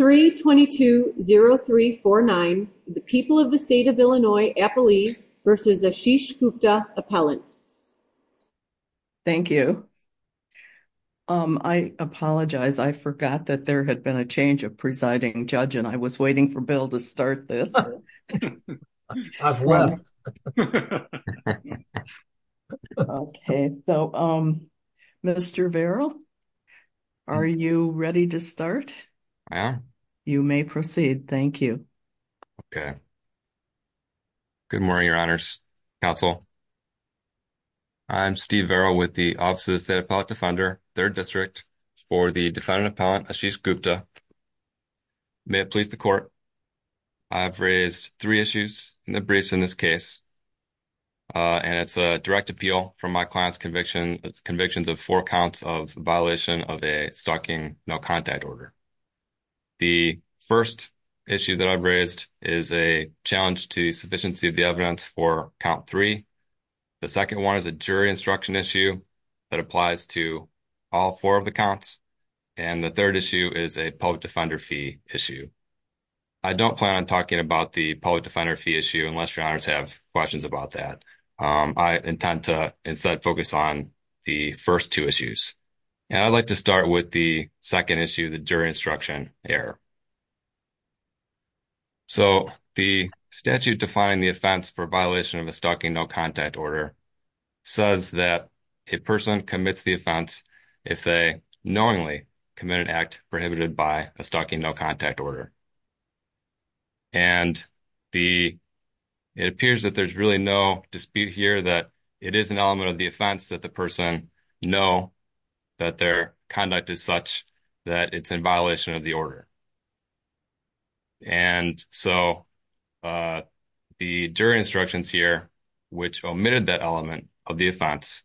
322-0349, the people of the state of Illinois, Appali, versus Ashish Gupta, appellant. Thank you. I apologize, I forgot that there had been a change of presiding judge and I was waiting for Bill to start this. I've left. Okay, so Mr. Verrill, are you ready to start? I am. You may proceed. Thank you. Okay. Good morning, your honors, counsel. I'm Steve Verrill with the Office of the State Appellate Defender, 3rd District, for the defendant-appellant Ashish Gupta. May it please the court, I've raised three issues in the briefs in this case, and it's a direct appeal from my client's conviction, convictions of four counts of violation of a stalking no-contact order. The first issue that I've raised is a challenge to the sufficiency of the evidence for count three. The second one is a jury instruction issue that applies to all four of the counts. And the third issue is a public defender fee issue. I don't plan on talking about the public defender fee issue unless your honors have questions about that. I intend to instead focus on the first two issues. And I'd like to start with the second issue, the jury instruction error. So the statute defining the offense for violation of a stalking no-contact order says that a person commits the offense if they knowingly commit an act prohibited by a stalking no-contact order. And it appears that there's really no dispute here that it is an element of the offense that the person know that their conduct is such that it's in violation of the order. And so the jury instructions here, which omitted that element of the offense,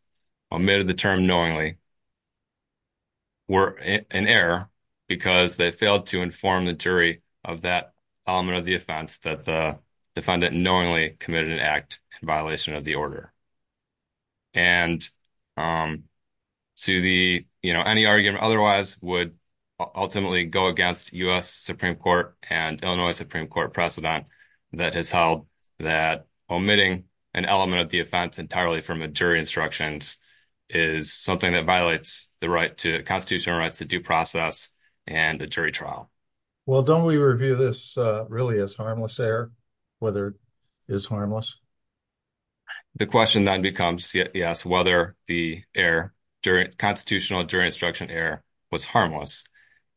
omitted the term knowingly, were in error because they failed to inform the jury of that element of the offense that the defendant knowingly committed an act in violation of the order. And to the, you know, any argument otherwise would ultimately go against U.S. Supreme Court and Illinois Supreme Court precedent that has held that omitting an element of the jury instructions is something that violates the right to constitutional rights to due process and a jury trial. Well, don't we review this really as harmless error, whether it is harmless? The question then becomes, yes, whether the error during constitutional jury instruction error was harmless.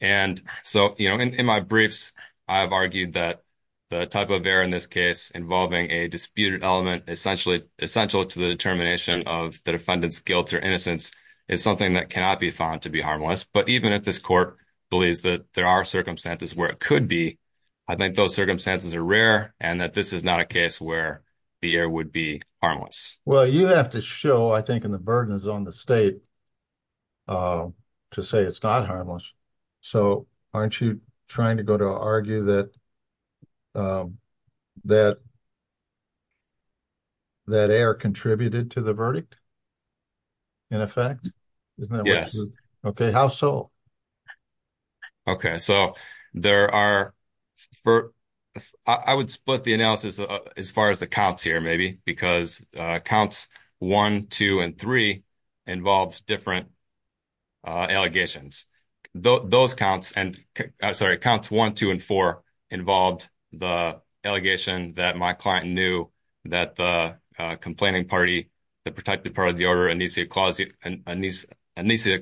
And so, you know, in my briefs, I've argued that the type of error in this case involving a disputed element essentially essential to the determination of the defendant's guilt or innocence is something that cannot be found to be harmless. But even if this court believes that there are circumstances where it could be, I think those circumstances are rare and that this is not a case where the error would be harmless. Well, you have to show, I think, in the burden is on the state to say it's not harmless. So aren't you trying to go to argue that that error contributed to the verdict in effect? Yes. Okay. How so? Okay. So there are, I would split the analysis as far as the counts here, maybe, because counts one, two, and three involves different allegations. Those counts and, I'm sorry, counts one, two, and four involved the allegation that my client knew that the complaining party, the protected part of the order, Anecia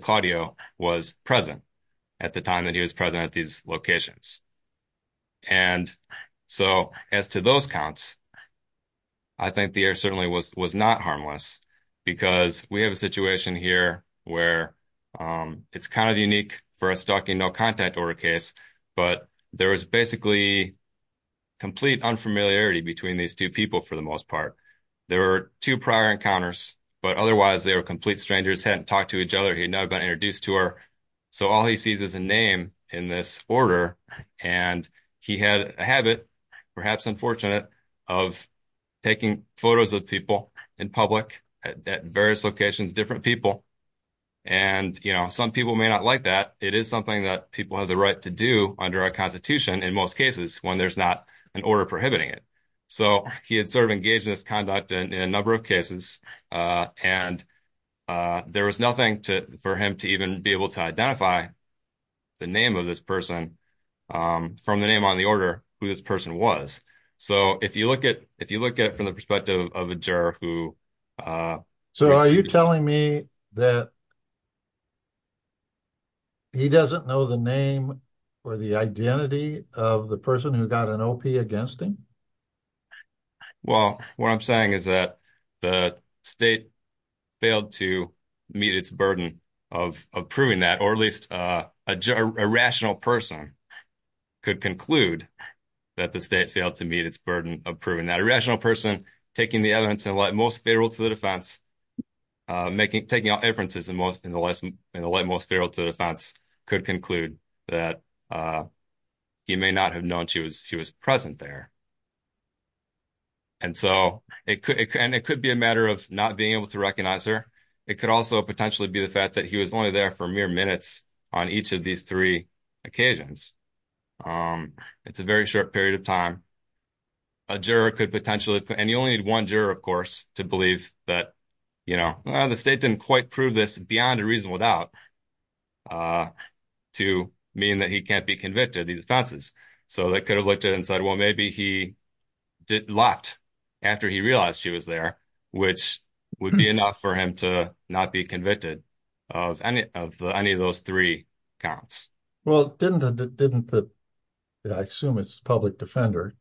Claudio, was present at the time that he was present at these locations. And so as to those counts, I think the error certainly was not harmless because we have a situation here where it's kind of unique for a stocking no contact order case, but there was basically complete unfamiliarity between these two people for the most part. There were two prior encounters, but otherwise they were complete strangers, hadn't talked to each other. He'd never been introduced to her. So all he sees is a name in this order. And he had a habit, perhaps unfortunate, of taking photos of people in public at various locations, different people. And some people may not like that. It is something that people have the right to do under our constitution in most cases when there's not an order prohibiting it. So he had sort of engaged in this conduct in a number of cases, and there was nothing for him to even be able to identify the name of this person from the name on the order who this person was. So if you look at the perspective of a juror who... So are you telling me that he doesn't know the name or the identity of the person who got an OP against him? Well, what I'm saying is that the state failed to meet its burden of proving that, or at least a rational person could conclude that the state taking the evidence in the light most favorable to the defense, taking out inferences in the light most favorable to the defense, could conclude that he may not have known she was present there. And it could be a matter of not being able to recognize her. It could also potentially be the fact that he was only there for mere minutes on each of these three occasions. It's a very short period of time. A juror could potentially... And you only need one juror, of course, to believe that, you know, the state didn't quite prove this beyond a reasonable doubt to mean that he can't be convicted of these offenses. So they could have looked at it and said, well, maybe he left after he realized she was there, which would be enough for him to not be convicted of any of those three counts. Well, didn't the... I assume it's the public defender.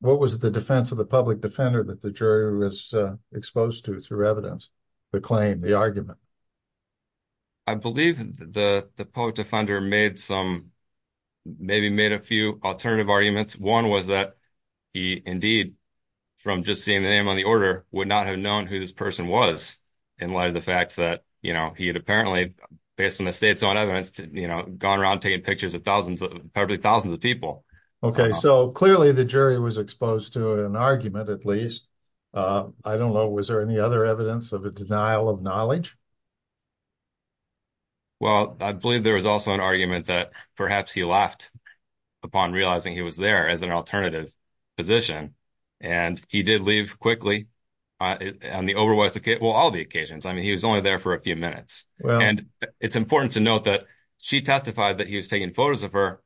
What was the defense of the public defender that the jury was exposed to through evidence, the claim, the argument? I believe the public defender made some, maybe made a few alternative arguments. One was that he indeed, from just seeing the name on the order, would not have known who this person was in light of the fact that, you know, he had apparently, based on the state's own evidence, you know, gone around taking pictures of thousands, probably thousands of people. Okay. So clearly the jury was exposed to an argument, at least. I don't know. Was there any other evidence of a denial of knowledge? Well, I believe there was also an argument that perhaps he left upon realizing he was there as an alternative position. And he did leave quickly on the overwhelming, well, all the occasions. I mean, he was only there for a few minutes. And it's important to note that she testified that he was taking photos of her,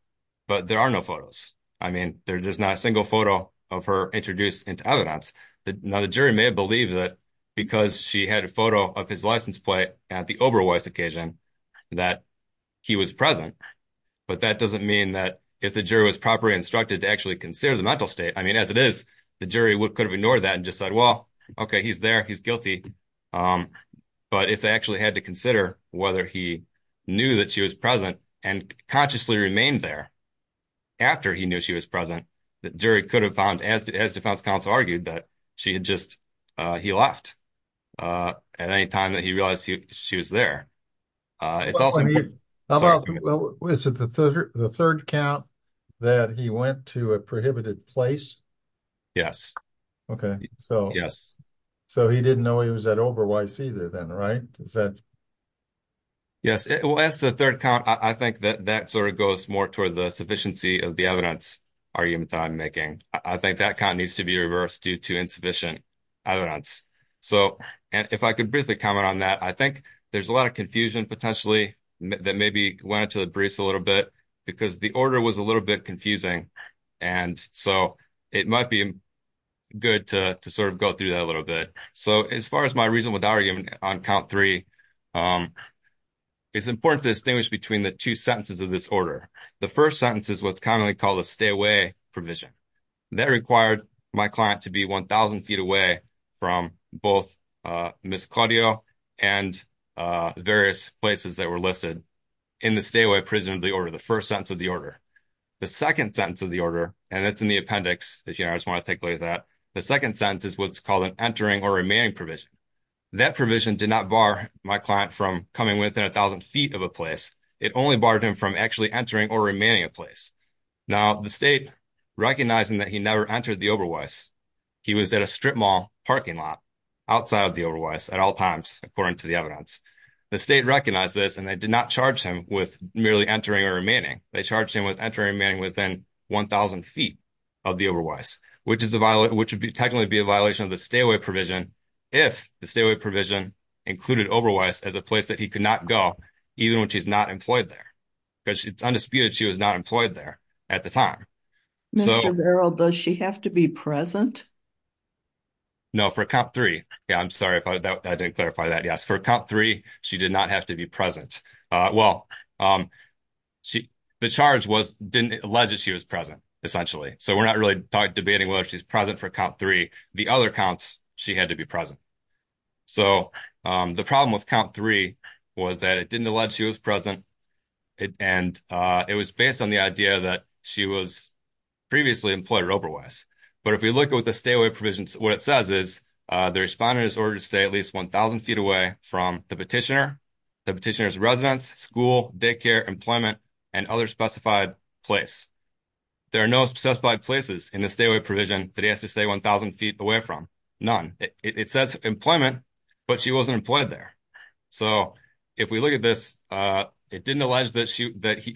but there are no photos. I mean, there's not a single photo of her introduced into evidence. Now the jury may have believed that because she had a photo of his license plate at the Oberweiss occasion that he was present, but that doesn't mean that if the jury was properly instructed to actually consider the mental state, I mean, as it is, the jury could have ignored that and just said, well, okay, he's there, he's guilty. But if they actually had to consider whether he knew that she was present and consciously remained there after he knew she was present, the jury could have found, as defense counsel argued, that she had just, he left at any time that he realized she was there. It's also... Was it the third count that he went to a prohibited place? Yes. Okay. So he didn't know he was at Oberweiss either then, right? Yes. Well, as the third count, I think that that sort of goes more toward the sufficiency of the evidence argument that I'm making. I think that count needs to be reversed due to insufficient evidence. So, and if I could briefly comment on that, I think there's a lot of confusion potentially that maybe went into the briefs a little bit because the order was a little bit confusing. And so it might be good to sort of go through that a little bit. So as far as my reasonable argument on count three, it's important to distinguish between the two sentences of this order. The first sentence is what's commonly called a stay away provision. That required my client to be 1,000 feet away from both Ms. Claudio and various places that were listed in the stay away prison of the order, the first sentence of the order. The second sentence of the order, and it's in the appendix, if you guys want to take away that, the second sentence is what's called an entering or remaining provision. That provision did not bar my client from coming within 1,000 feet of a place. It only barred him from actually entering or remaining a place. Now the state, recognizing that he never entered the Oberweiss, he was at a strip mall parking lot outside of the Oberweiss at all times, according to the evidence. The state recognized this and did not charge him with merely entering or remaining. They charged him with entering or remaining within 1,000 feet of the Oberweiss, which would technically be a violation of the stay away provision if the stay away provision included Oberweiss as a place that he could not go even when she's not employed there. Because it's undisputed she was not employed there at the time. Mr. Verrill, does she have to be present? No, for count three. Yeah, I'm sorry if I didn't clarify that. Yes, for count three, she did not have to be present. Well, the charge didn't allege that she was present, essentially. So we're not really debating whether she's present for count three. The other counts, she had to be present. So the problem with count three was that it didn't allege she was present. And it was based on the idea that she was previously employed at Oberweiss. But if we look at what the stay away provision, what it says is the respondent is ordered to stay at least 1,000 feet away from the petitioner, the petitioner's residence, school, daycare, employment, and other specified place. There are no specified places in the stay away provision that he has to stay 1,000 feet away from. None. It says employment, but she wasn't employed there. So if we look at this, it didn't allege that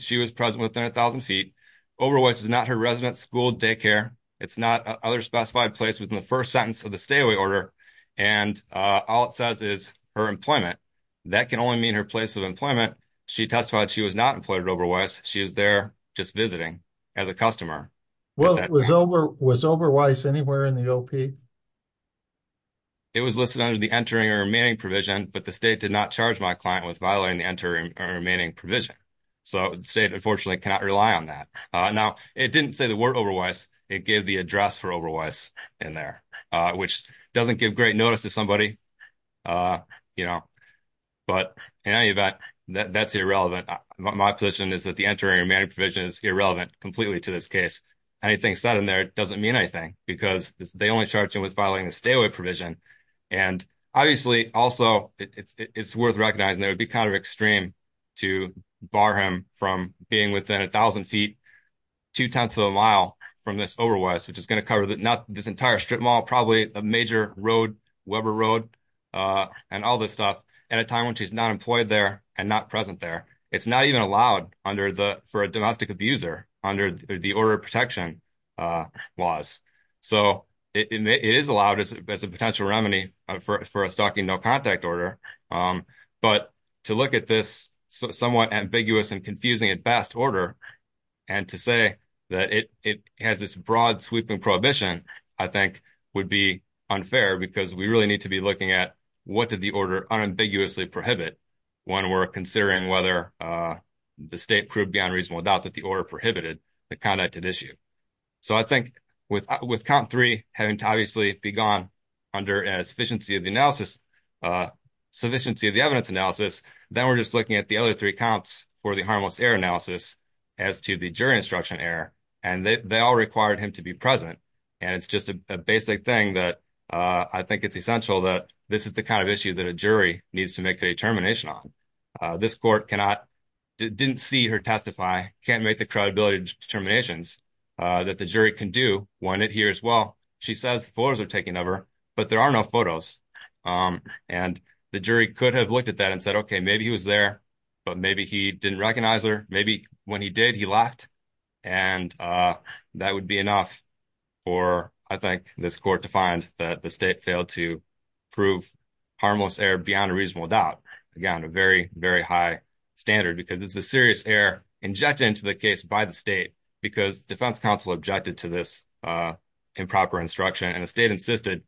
she was present within 1,000 feet. Oberweiss is not her residence, school, daycare. It's not other specified place within the first sentence of the stay away order. And all it says is her employment. That can only mean her place of employment. She testified she was not employed at Oberweiss. She was there just visiting as a customer. Well, was Oberweiss anywhere in the OP? It was listed under the entering or remaining provision, but the state did not charge my client with violating the entering or remaining provision. So the state unfortunately cannot rely on that. Now, it didn't say the word Oberweiss. It gave the address for Oberweiss in there, which doesn't give great notice to somebody, you know. But in any event, that's irrelevant. My position is that the entering or remaining provision is irrelevant completely to this case. Anything said in there doesn't mean anything because they only charged him with violating the stay away provision. And obviously, also, it's worth recognizing that it would be kind of extreme to bar him from being within 1,000 feet, two tenths of a mile from this Oberweiss, which is going to cover not this entire strip mall, probably a major road, Weber Road, and all this stuff at a time when she's not employed there and not present there. It's not even allowed for a domestic abuser under the order of protection laws. So it is allowed as a potential remedy for a stalking no contact order. But to look at this somewhat ambiguous and confusing at best order and to say that it has this broad sweeping prohibition, I think would be unfair because we really need to be looking at what did the order unambiguously prohibit when we're considering whether the state proved beyond reasonable doubt that the order prohibited the conducted issue. So I think with count three having to obviously be gone under a sufficiency of the analysis, sufficiency of the evidence analysis, then we're just looking at the other three counts for the harmless error analysis as to the jury instruction error. And they all required him to be present. And it's just a basic thing that I think it's essential that this is the kind of issue that a jury needs to make a determination on. This court cannot, didn't see her testify, can't make the credibility determinations that the jury can do when it hears, well, she says the photos are taken of her, but there are no photos. Um, and the jury could have looked at that and said, okay, maybe he was there, but maybe he didn't recognize her. Maybe when he did, he left. And, uh, that would be enough for, I think this court defined that the state failed to prove harmless error beyond a reasonable doubt, again, a very, very high standard, because this is a serious error injected into the case by the state because defense counsel objected to this, uh, improper instruction. And the state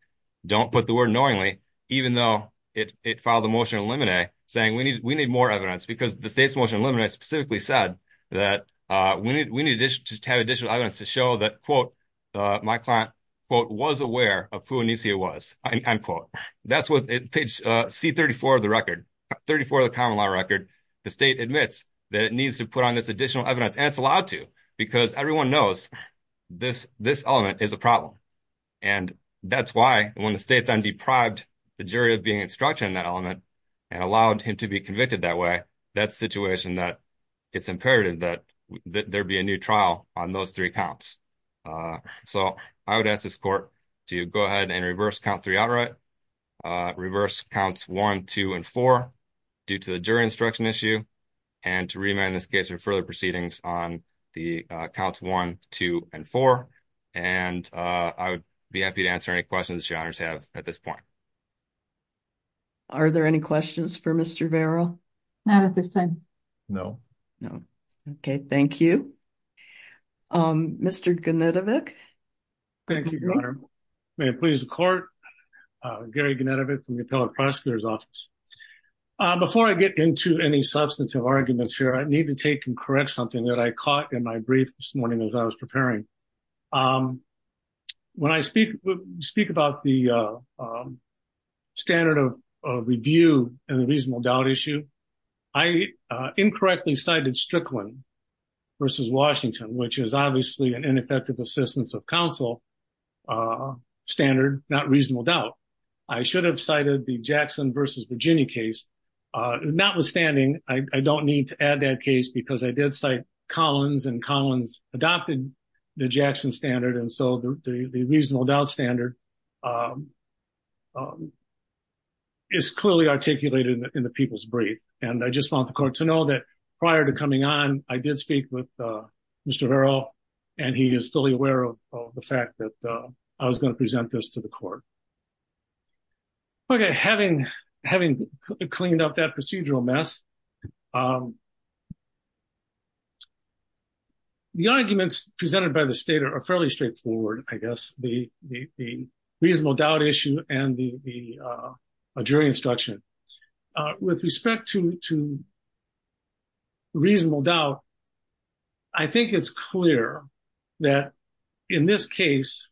don't put the word knowingly, even though it, it filed a motion in limine saying we need, we need more evidence because the state's motion limine specifically said that, uh, we need, we need to have additional evidence to show that quote, uh, my client quote was aware of who it was. I quote, that's what page C 34 of the record 34 of the common law record. The state admits that it needs to put on this additional evidence and it's allowed to, because everyone knows this, this element is a problem. And that's why when the state then deprived the jury of being instructed in that element and allowed him to be convicted that way, that situation, that it's imperative that there'd be a new trial on those three counts. Uh, so I would ask this court to go ahead and reverse count three outright, uh, reverse counts one, two, and four due to the jury instruction issue. And to remand this case or further proceedings on the counts one, two, and four. And, uh, I would be happy to answer any questions you have at this point. Are there any questions for Mr. Vero? Not at this time. No, no. Okay. Thank you. Um, Mr. Gnidovic. Thank you. May it please the court, uh, Gary Gnidovic from the appellate prosecutor's office. Uh, before I get into any substantive arguments here, I need to take and I caught in my brief this morning as I was preparing. Um, when I speak, speak about the, um, standard of review and the reasonable doubt issue, I, uh, incorrectly cited Strickland versus Washington, which is obviously an ineffective assistance of counsel, uh, standard, not reasonable doubt. I should have cited the Jackson versus Virginia case. Uh, not withstanding, I don't need to add that case because I did cite Collins and Collins adopted the Jackson standard. And so the, the, the reasonable doubt standard, um, um, is clearly articulated in the people's brief. And I just want the court to know that prior to coming on, I did speak with, uh, Mr. Vero and he is fully aware of the fact that, I was going to present this to the court. Okay. Having, having cleaned up that procedural mess, um, the arguments presented by the state are fairly straightforward. I guess the, the, the reasonable doubt issue and the, the, uh, jury instruction, uh, with respect to, to reasonable doubt, I think it's clear that in this case,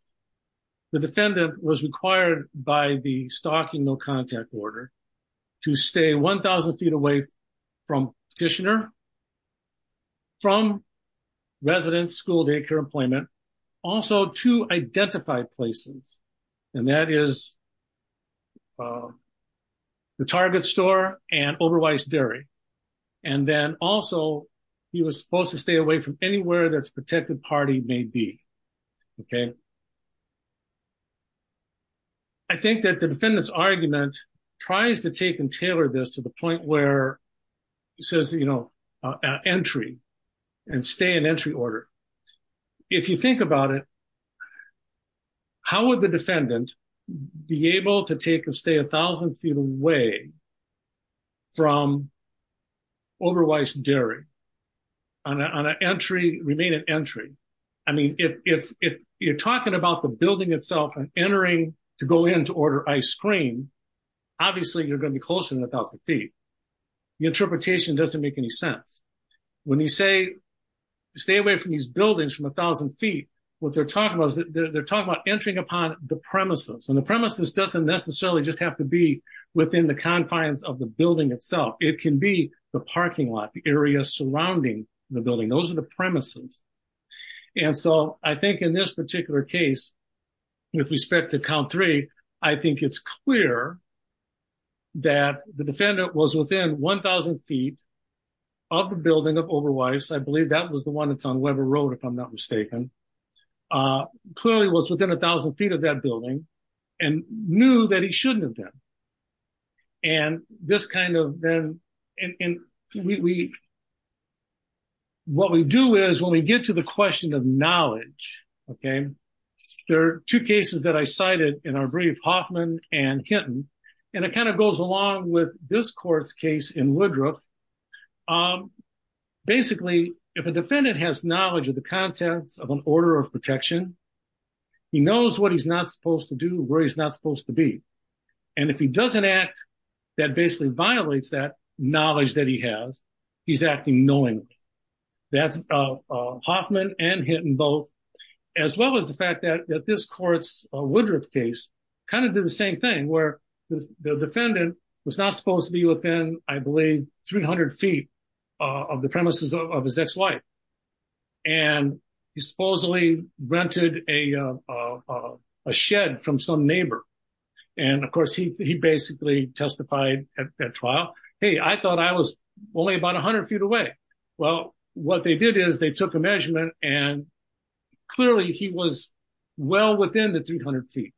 the defendant was required by the stalking, no contact order to stay 1000 feet away from petitioner, from residents, school, daycare, employment, also to identify places. And that is, um, the target store and Oberweiss dairy. And then also he was supposed to stay away from anywhere that's protected party may be. Okay. I think that the defendant's argument tries to take and tailor this to the point where says, you know, uh, entry and stay in entry order. If you think about it, how would the defendant be able to take and stay a thousand feet away from Oberweiss dairy on a, on an entry remain an entry. I mean, if, if, if you're talking about the building itself and entering to go in to order ice cream, obviously you're going to be closer than a thousand feet. The interpretation doesn't make any sense when you say, stay away from these buildings from a thousand feet. What they're talking about is that they're talking about entering upon the premises and the premises doesn't necessarily just have to be within the confines of the building itself. It can be the parking lot, the area surrounding the building. Those are the premises. And so I think in this particular case, with respect to count three, I think it's clear that the defendant was within 1000 feet of the building of Oberweiss. I believe that was the one that's on Weber road, if I'm not mistaken, uh, clearly was within a thousand feet of that building and knew that he shouldn't have been. And this kind of then, and we, we, what we do is when we get to the question of knowledge, okay, there are two cases that I cited in our brief Hoffman and Kenton, and it kind of goes along with this court's case in Woodruff. Um, basically if a defendant has knowledge of the contents of an order of protection, he knows what he's not supposed to do, where he's not supposed to be. And if he doesn't act, that basically violates that knowledge that he has, he's acting knowingly. That's, uh, uh, Hoffman and Hinton both, as well as the fact that, that this court's, uh, Woodruff case kind of did the same thing where the defendant was not supposed to be within, I believe 300 feet of the premises of his ex-wife. And he supposedly rented a, uh, uh, a shed from some neighbor. And of course he, he basically testified at trial. Hey, I thought I was only about a hundred feet away. Well, what they did is they took a measurement and clearly he was well within the 800 feet.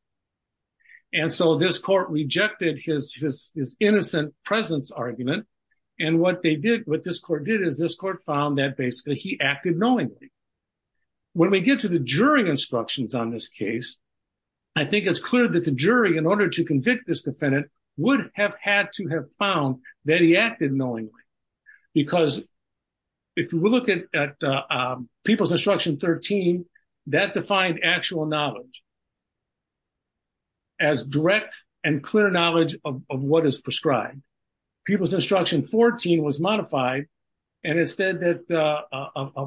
And so this court rejected his, his, his innocent presence argument. And what they did, what this court did is this court found that basically he acted knowingly. When we get to the jury instructions on this case, I think it's clear that the jury in order to convict this defendant would have had to have found that he acted knowingly. Because if we look at, People's Instruction 13, that defined actual knowledge as direct and clear knowledge of what is prescribed. People's Instruction 14 was modified and it said that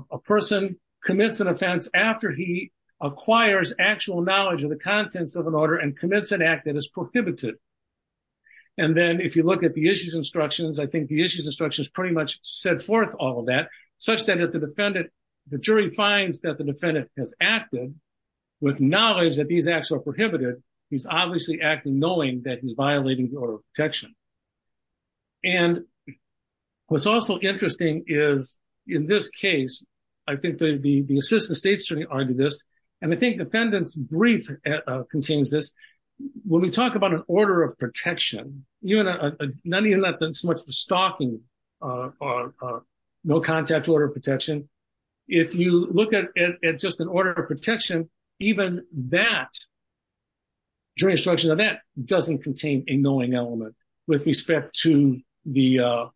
a person commits an offense after he acquires actual knowledge of the contents of an order and commits an act that is prohibited. And then if you look at the issues instructions, I think the issues instructions pretty much set forth all of such that if the defendant, the jury finds that the defendant has acted with knowledge that these acts are prohibited, he's obviously acting knowing that he's violating the order of protection. And what's also interesting is in this case, I think the, the assistant state's jury argued this, and I think defendant's brief contains this. When we talk about an order of protection, none of that is so much the stalking or no contact order of protection. If you look at just an order of protection, even that, jury instruction on that doesn't contain a knowing element with respect to the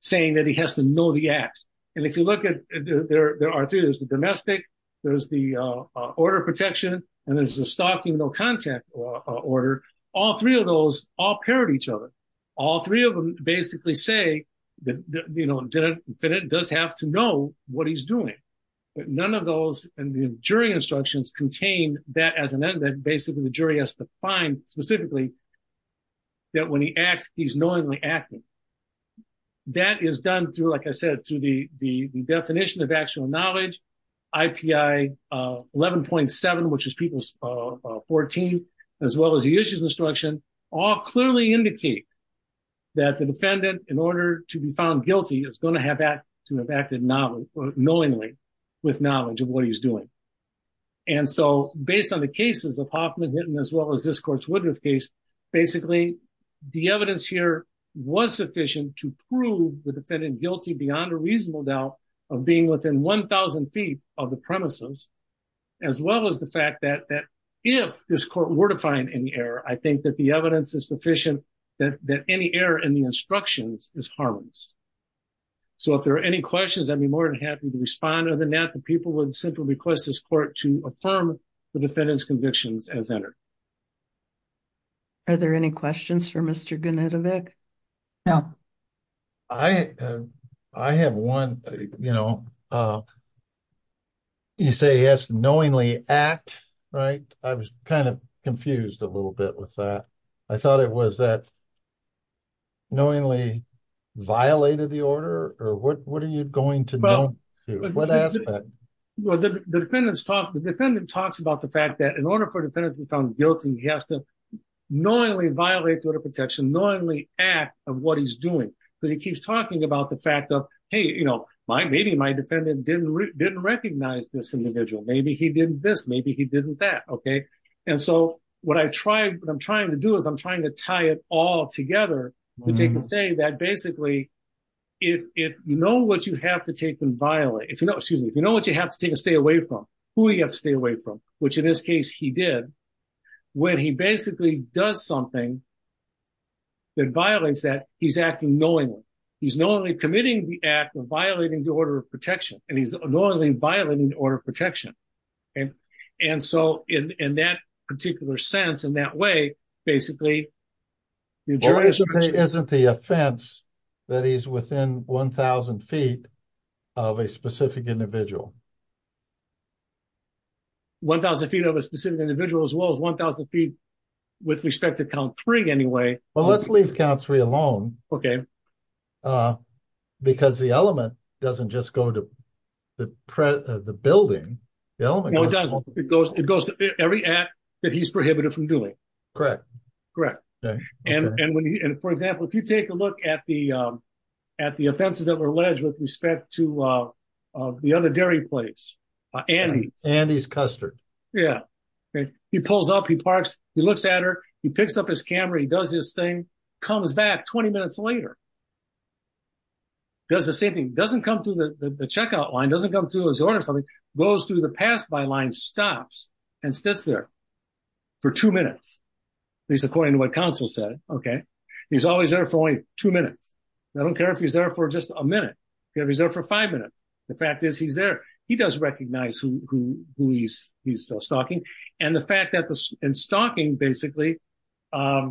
saying that he has to know the acts. And if you look at, there are two, there's the domestic, there's the order of protection, and there's the stalking no contact order. All three of those all paired each other. All three of them basically say that, you know, the defendant does have to know what he's doing, but none of those, and the jury instructions contain that as an end, that basically the jury has to find specifically that when he acts, he's knowingly acting. That is done through, like I said, through the, the definition of 14, as well as the issues instruction, all clearly indicate that the defendant in order to be found guilty is going to have to have acted knowingly with knowledge of what he's doing. And so based on the cases of Hoffman Hinton, as well as this court's Woodruff case, basically the evidence here was sufficient to prove the defendant guilty beyond a reasonable doubt of being within 1,000 feet of the premises, as well as the fact that if this court were to find any error, I think that the evidence is sufficient that any error in the instructions is harmless. So if there are any questions, I'd be more than happy to respond. Other than that, the people would simply request this court to affirm the defendant's convictions as entered. Are there any questions for Mr. Gunitevic? No. I, I have one, you know, you say he has to knowingly act, right? I was kind of confused a little bit with that. I thought it was that knowingly violated the order, or what, what are you going to know? What aspect? Well, the defendant's talk, the defendant talks about the fact that in order for a defendant to be found guilty, he has to knowingly violate the order of protection, knowingly act of what he's doing. But he keeps talking about the fact of, hey, you know, my, maybe my defendant didn't, didn't recognize this individual. Maybe he didn't this, maybe he didn't that. Okay. And so what I tried, what I'm trying to do is I'm trying to tie it all together to say that basically, if you know what you have to take and violate, if you know, excuse me, if you know what you have to take and stay away from, who you have to stay away from, which in this case he did, when he basically does something that violates that, he's acting knowingly. He's knowingly committing the act of violating the order of protection, and he's knowingly violating the order of protection. And, and so in that particular sense, in that way, basically isn't the offense that he's within 1,000 feet of a specific individual. 1,000 feet of a specific individual as well as 1,000 feet with respect to count three anyway. Well, let's leave count three alone. Okay. Because the element doesn't just go to the building. It goes to every act that he's prohibited from doing. Correct. Correct. And for example, if you take a look at the offenses that were alleged with respect to the other dairy place, Andy's. Andy's Custard. Yeah. He pulls up, he parks, he looks at her, he picks up his camera, he does his thing, comes back 20 minutes later, does the same thing, doesn't come through the checkout line, doesn't come through his order, goes through the pass-by line, stops, and sits there for two minutes, at least according to what counsel said. Okay. He's always there for only two minutes. I don't care if he's there for just a minute. If he's there for five minutes. The fact is he's there. He does recognize who he's stalking. And the fact that the, and stalking basically, let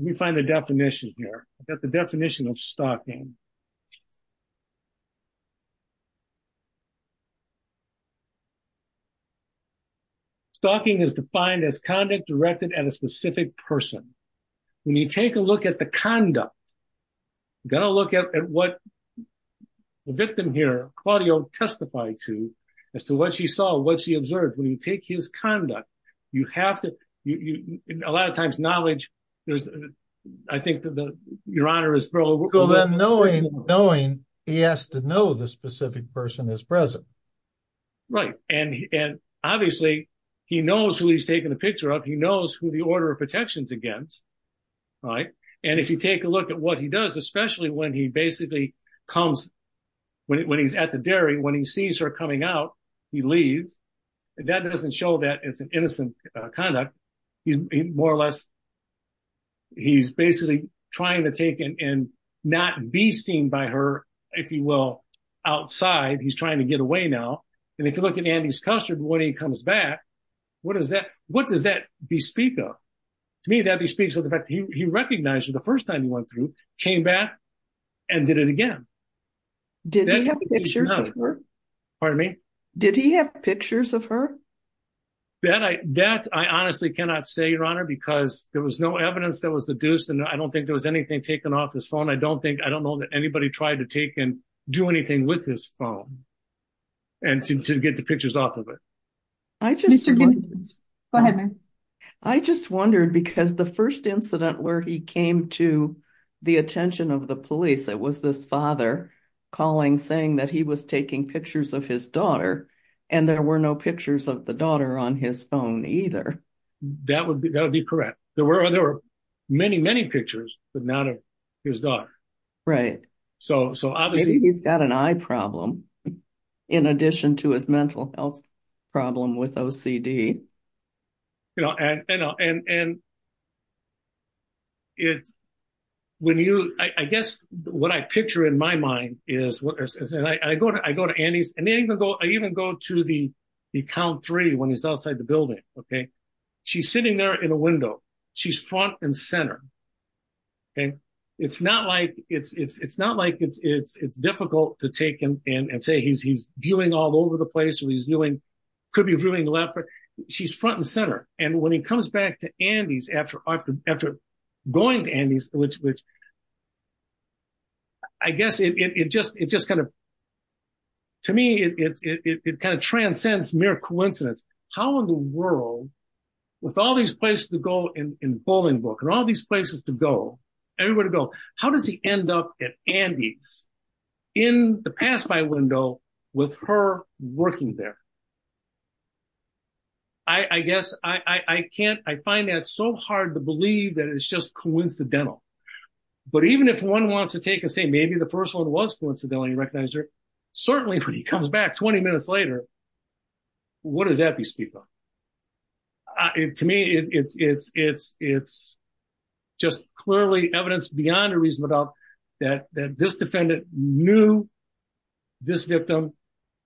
me find the definition here. Got the definition of stalking. Stalking is defined as conduct directed at a specific person. When you take a look at the conduct, you got to look at what the victim here, Claudio, testified to as to what she saw, what she observed. When you take his conduct, you have to, a lot of times knowledge, there's, I think that the, your honor is. So then knowing, knowing he has to know the specific person is present. Right. And, and obviously he knows who he's taking the picture of. He knows who the order of protection is against. Right. And if you take a look at what he does, especially when he basically comes, when he's at the dairy, when he sees her coming out, he leaves. That doesn't show that it's an innocent conduct. He's more or less, he's basically trying to take it and not be seen by her. If you will, outside, he's trying to get away now. And if you look at Andy's custard, when he comes back, what does that, what does that be speak of? To me, that'd be speaks of the fact that he recognized her the first time he went through, came back and did it again. Did he have pictures of her? Pardon me? Did he have pictures of her? That I, that I honestly cannot say your honor, because there was no evidence that was deduced. And I don't think there was anything taken off his phone. I don't think, I don't know that anybody tried to take and do anything with his phone and to get the pictures off of it. I just, I just wondered because the first incident where he came to the attention of the police, it was this father calling, saying that he was taking pictures of his daughter, and there were no pictures of the daughter on his phone either. That would be, that would be correct. There were, there were many, many pictures, but none of his daughter. Right. So, so obviously he's got an eye problem in addition to his mental health problem with OCD. You know, and, and, and, and when you, I guess what I picture in my mind is, I go to, I go to Andy's and they even go, I even go to the, the count three when he's outside the building. Okay. She's sitting there in a window. She's front and center. Okay. It's not like it's, it's, it's not like it's, it's, it's difficult to take him in and say he's, he's viewing all over the place where he's viewing, could be viewing left, but she's front and center. And when he comes back to Andy's after, after, going to Andy's, which, which I guess it, it, it just, it just kind of, to me, it, it, it, it kind of transcends mere coincidence. How in the world, with all these places to go in Bowlingbrook and all these places to go, everywhere to go, how does he end up at Andy's in the pass-by window with her working there? I, I guess I, I, I can't, I find that so hard to believe that it's just coincidental, but even if one wants to take and say, maybe the first one was coincidental and he recognized her, certainly when he comes back 20 minutes later, what does that be speaking of? To me, it's, it's, it's, it's just clearly evidence beyond a reasonable doubt that, that this defendant knew this victim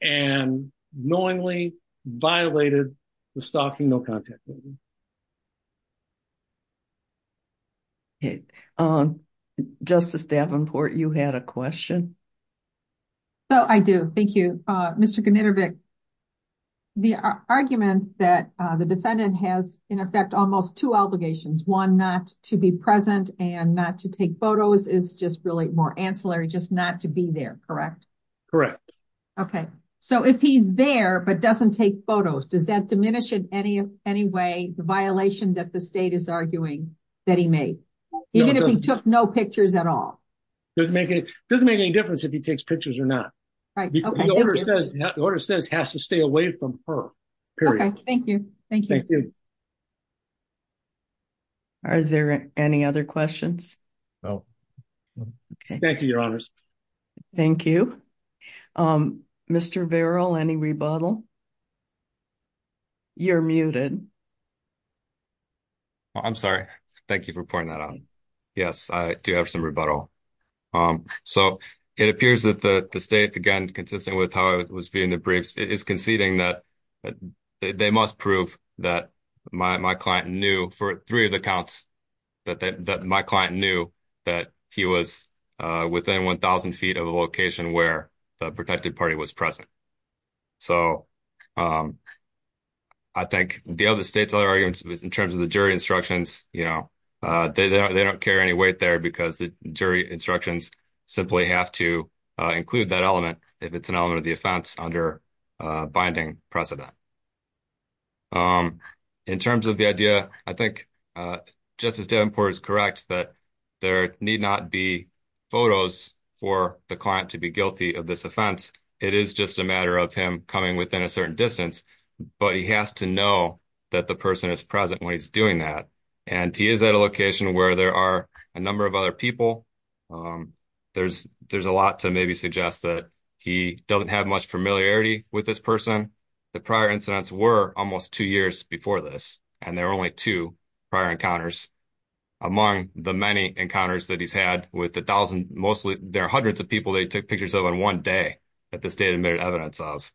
and knowingly violated the stalking, no contact. Okay. Justice Davenport, you had a question. So I do. Thank you, Mr. Knittervik. The argument that the defendant has in effect almost two to be there, correct? Correct. Okay. So if he's there, but doesn't take photos, does that diminish in any, any way the violation that the state is arguing that he made, even if he took no pictures at all? It doesn't make any difference if he takes pictures or not. Right. The order says, the order says has to stay away from her. Okay. Thank you. Thank you. Are there any other questions? No. Okay. Thank you, your honors. Thank you. Mr. Vero, any rebuttal? You're muted. I'm sorry. Thank you for pointing that out. Yes, I do have some rebuttal. So it appears that the state, again, consisting with how it was being debriefed is conceding that they must prove that my client knew for three of the counts that my client knew that he was within 1,000 feet of the location where the protected party was present. So I think the other state's other arguments in terms of the jury instructions, you know, they don't carry any weight there because the jury instructions simply have to include that element if it's an precedent. In terms of the idea, I think Justice Davenport is correct that there need not be photos for the client to be guilty of this offense. It is just a matter of him coming within a certain distance, but he has to know that the person is present when he's doing that. And he is at a location where there are a number of other people. There's a lot to maybe suggest that he doesn't have much familiarity with this person. The prior incidents were almost two years before this, and there were only two prior encounters. Among the many encounters that he's had with 1,000, mostly there are hundreds of people that he took pictures of in one day that the state admitted evidence of.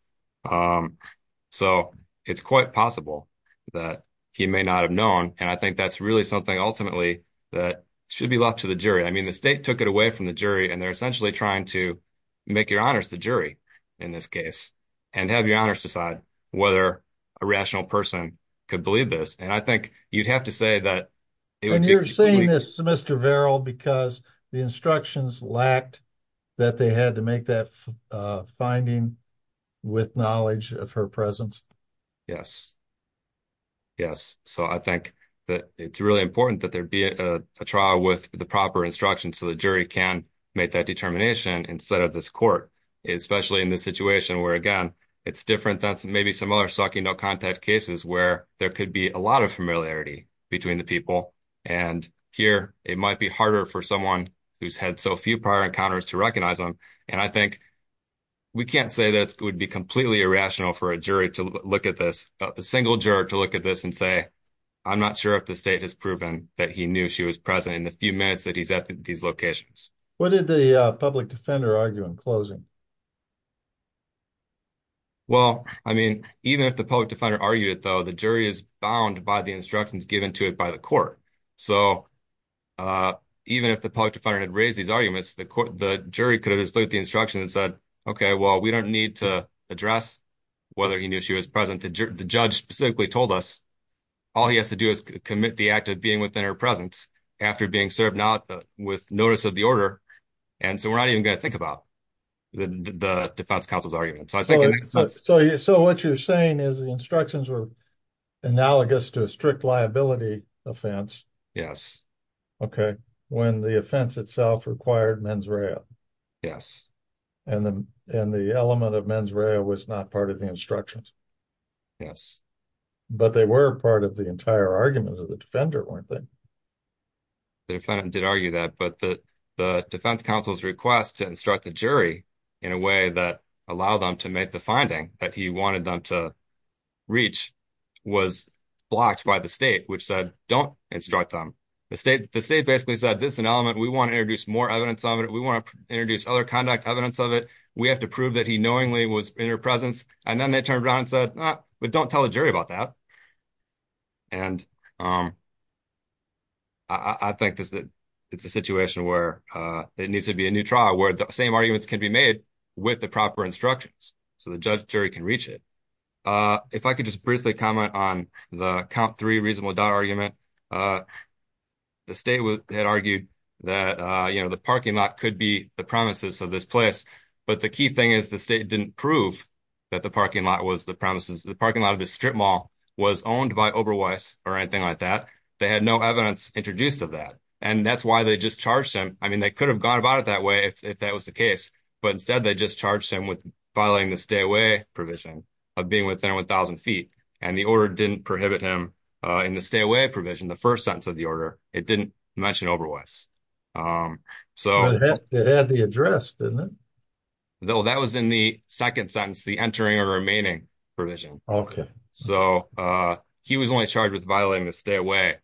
So it's quite possible that he may not have known, and I think that's really something ultimately that should be left to the jury. I mean, the state took it away from the jury, and they're essentially trying to make your honors the jury in this case, and have your honors decide whether a rational person could believe this. And I think you'd have to say that... And you're saying this, Mr. Verrill, because the instructions lacked that they had to make that finding with knowledge of her presence? Yes, yes. So I think that it's really important that there be a trial with the proper instructions so the jury can make that determination instead of this court, especially in this situation where, again, it's different than maybe some other stalking no-contact cases where there could be a lot of familiarity between the people. And here, it might be harder for someone who's had so few prior encounters to recognize them. And I think we can't say that it would be completely irrational for a single juror to look at this and say, I'm not sure if the state has proven that he knew she was present in the few minutes that he's at these locations. What did the public defender argue in closing? Well, I mean, even if the public defender argued it, though, the jury is bound by the instructions given to it by the court. So even if the public defender had raised these arguments, the jury could have just looked at the instructions and said, okay, well, we don't need to address whether he knew she was present. The judge specifically told us all he has to do is commit the act of being within her presence after being served out with notice of the order. And so we're not even going to think about the defense counsel's argument. So what you're saying is the instructions were analogous to a strict liability offense. Yes. Okay. When the offense itself required mens rea. Yes. And the element of mens rea was not part of the instructions. Yes. But they were part of the entire argument of the defender, weren't they? The defendant did argue that, but the defense counsel's request to instruct the jury in a way that allowed them to make the finding that he wanted them to reach was blocked by the state, which said, don't instruct them. The state basically said, this is an element we want to evidence of it. We want to introduce other conduct evidence of it. We have to prove that he knowingly was in her presence. And then they turned around and said, but don't tell the jury about that. And I think it's a situation where it needs to be a new trial where the same arguments can be made with the proper instructions so the judge jury can reach it. If I could just briefly comment on the count three reasonable argument, uh, the state had argued that, uh, you know, the parking lot could be the promises of this place, but the key thing is the state didn't prove that the parking lot was the promises. The parking lot of the strip mall was owned by Oberweiss or anything like that. They had no evidence introduced of that. And that's why they just charged him. I mean, they could have gone about it that way if that was the case, but instead they just charged him with filing the stay away provision of being within 1000 feet. And the order didn't prohibit him, uh, in the stay away provision, the first sentence of the order, it didn't mention Oberweiss. Um, so it had the address, didn't it? No, that was in the second sentence, the entering or remaining provision. Okay. So, uh, he was only charged with violating the stay away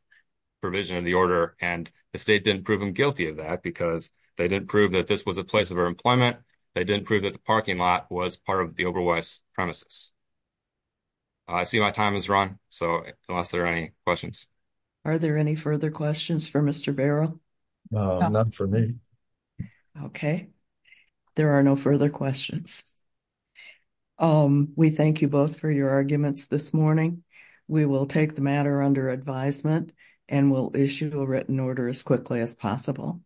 provision of the order. And the state didn't prove him guilty of that because they didn't prove that this was a place of our employment. They didn't prove that the parking was part of the Oberweiss premises. I see my time is run. So unless there are any questions, are there any further questions for Mr. Barrow? No, not for me. Okay. There are no further questions. Um, we thank you both for your arguments this morning. We will take the matter under advisement and we'll issue a written order as quickly as possible.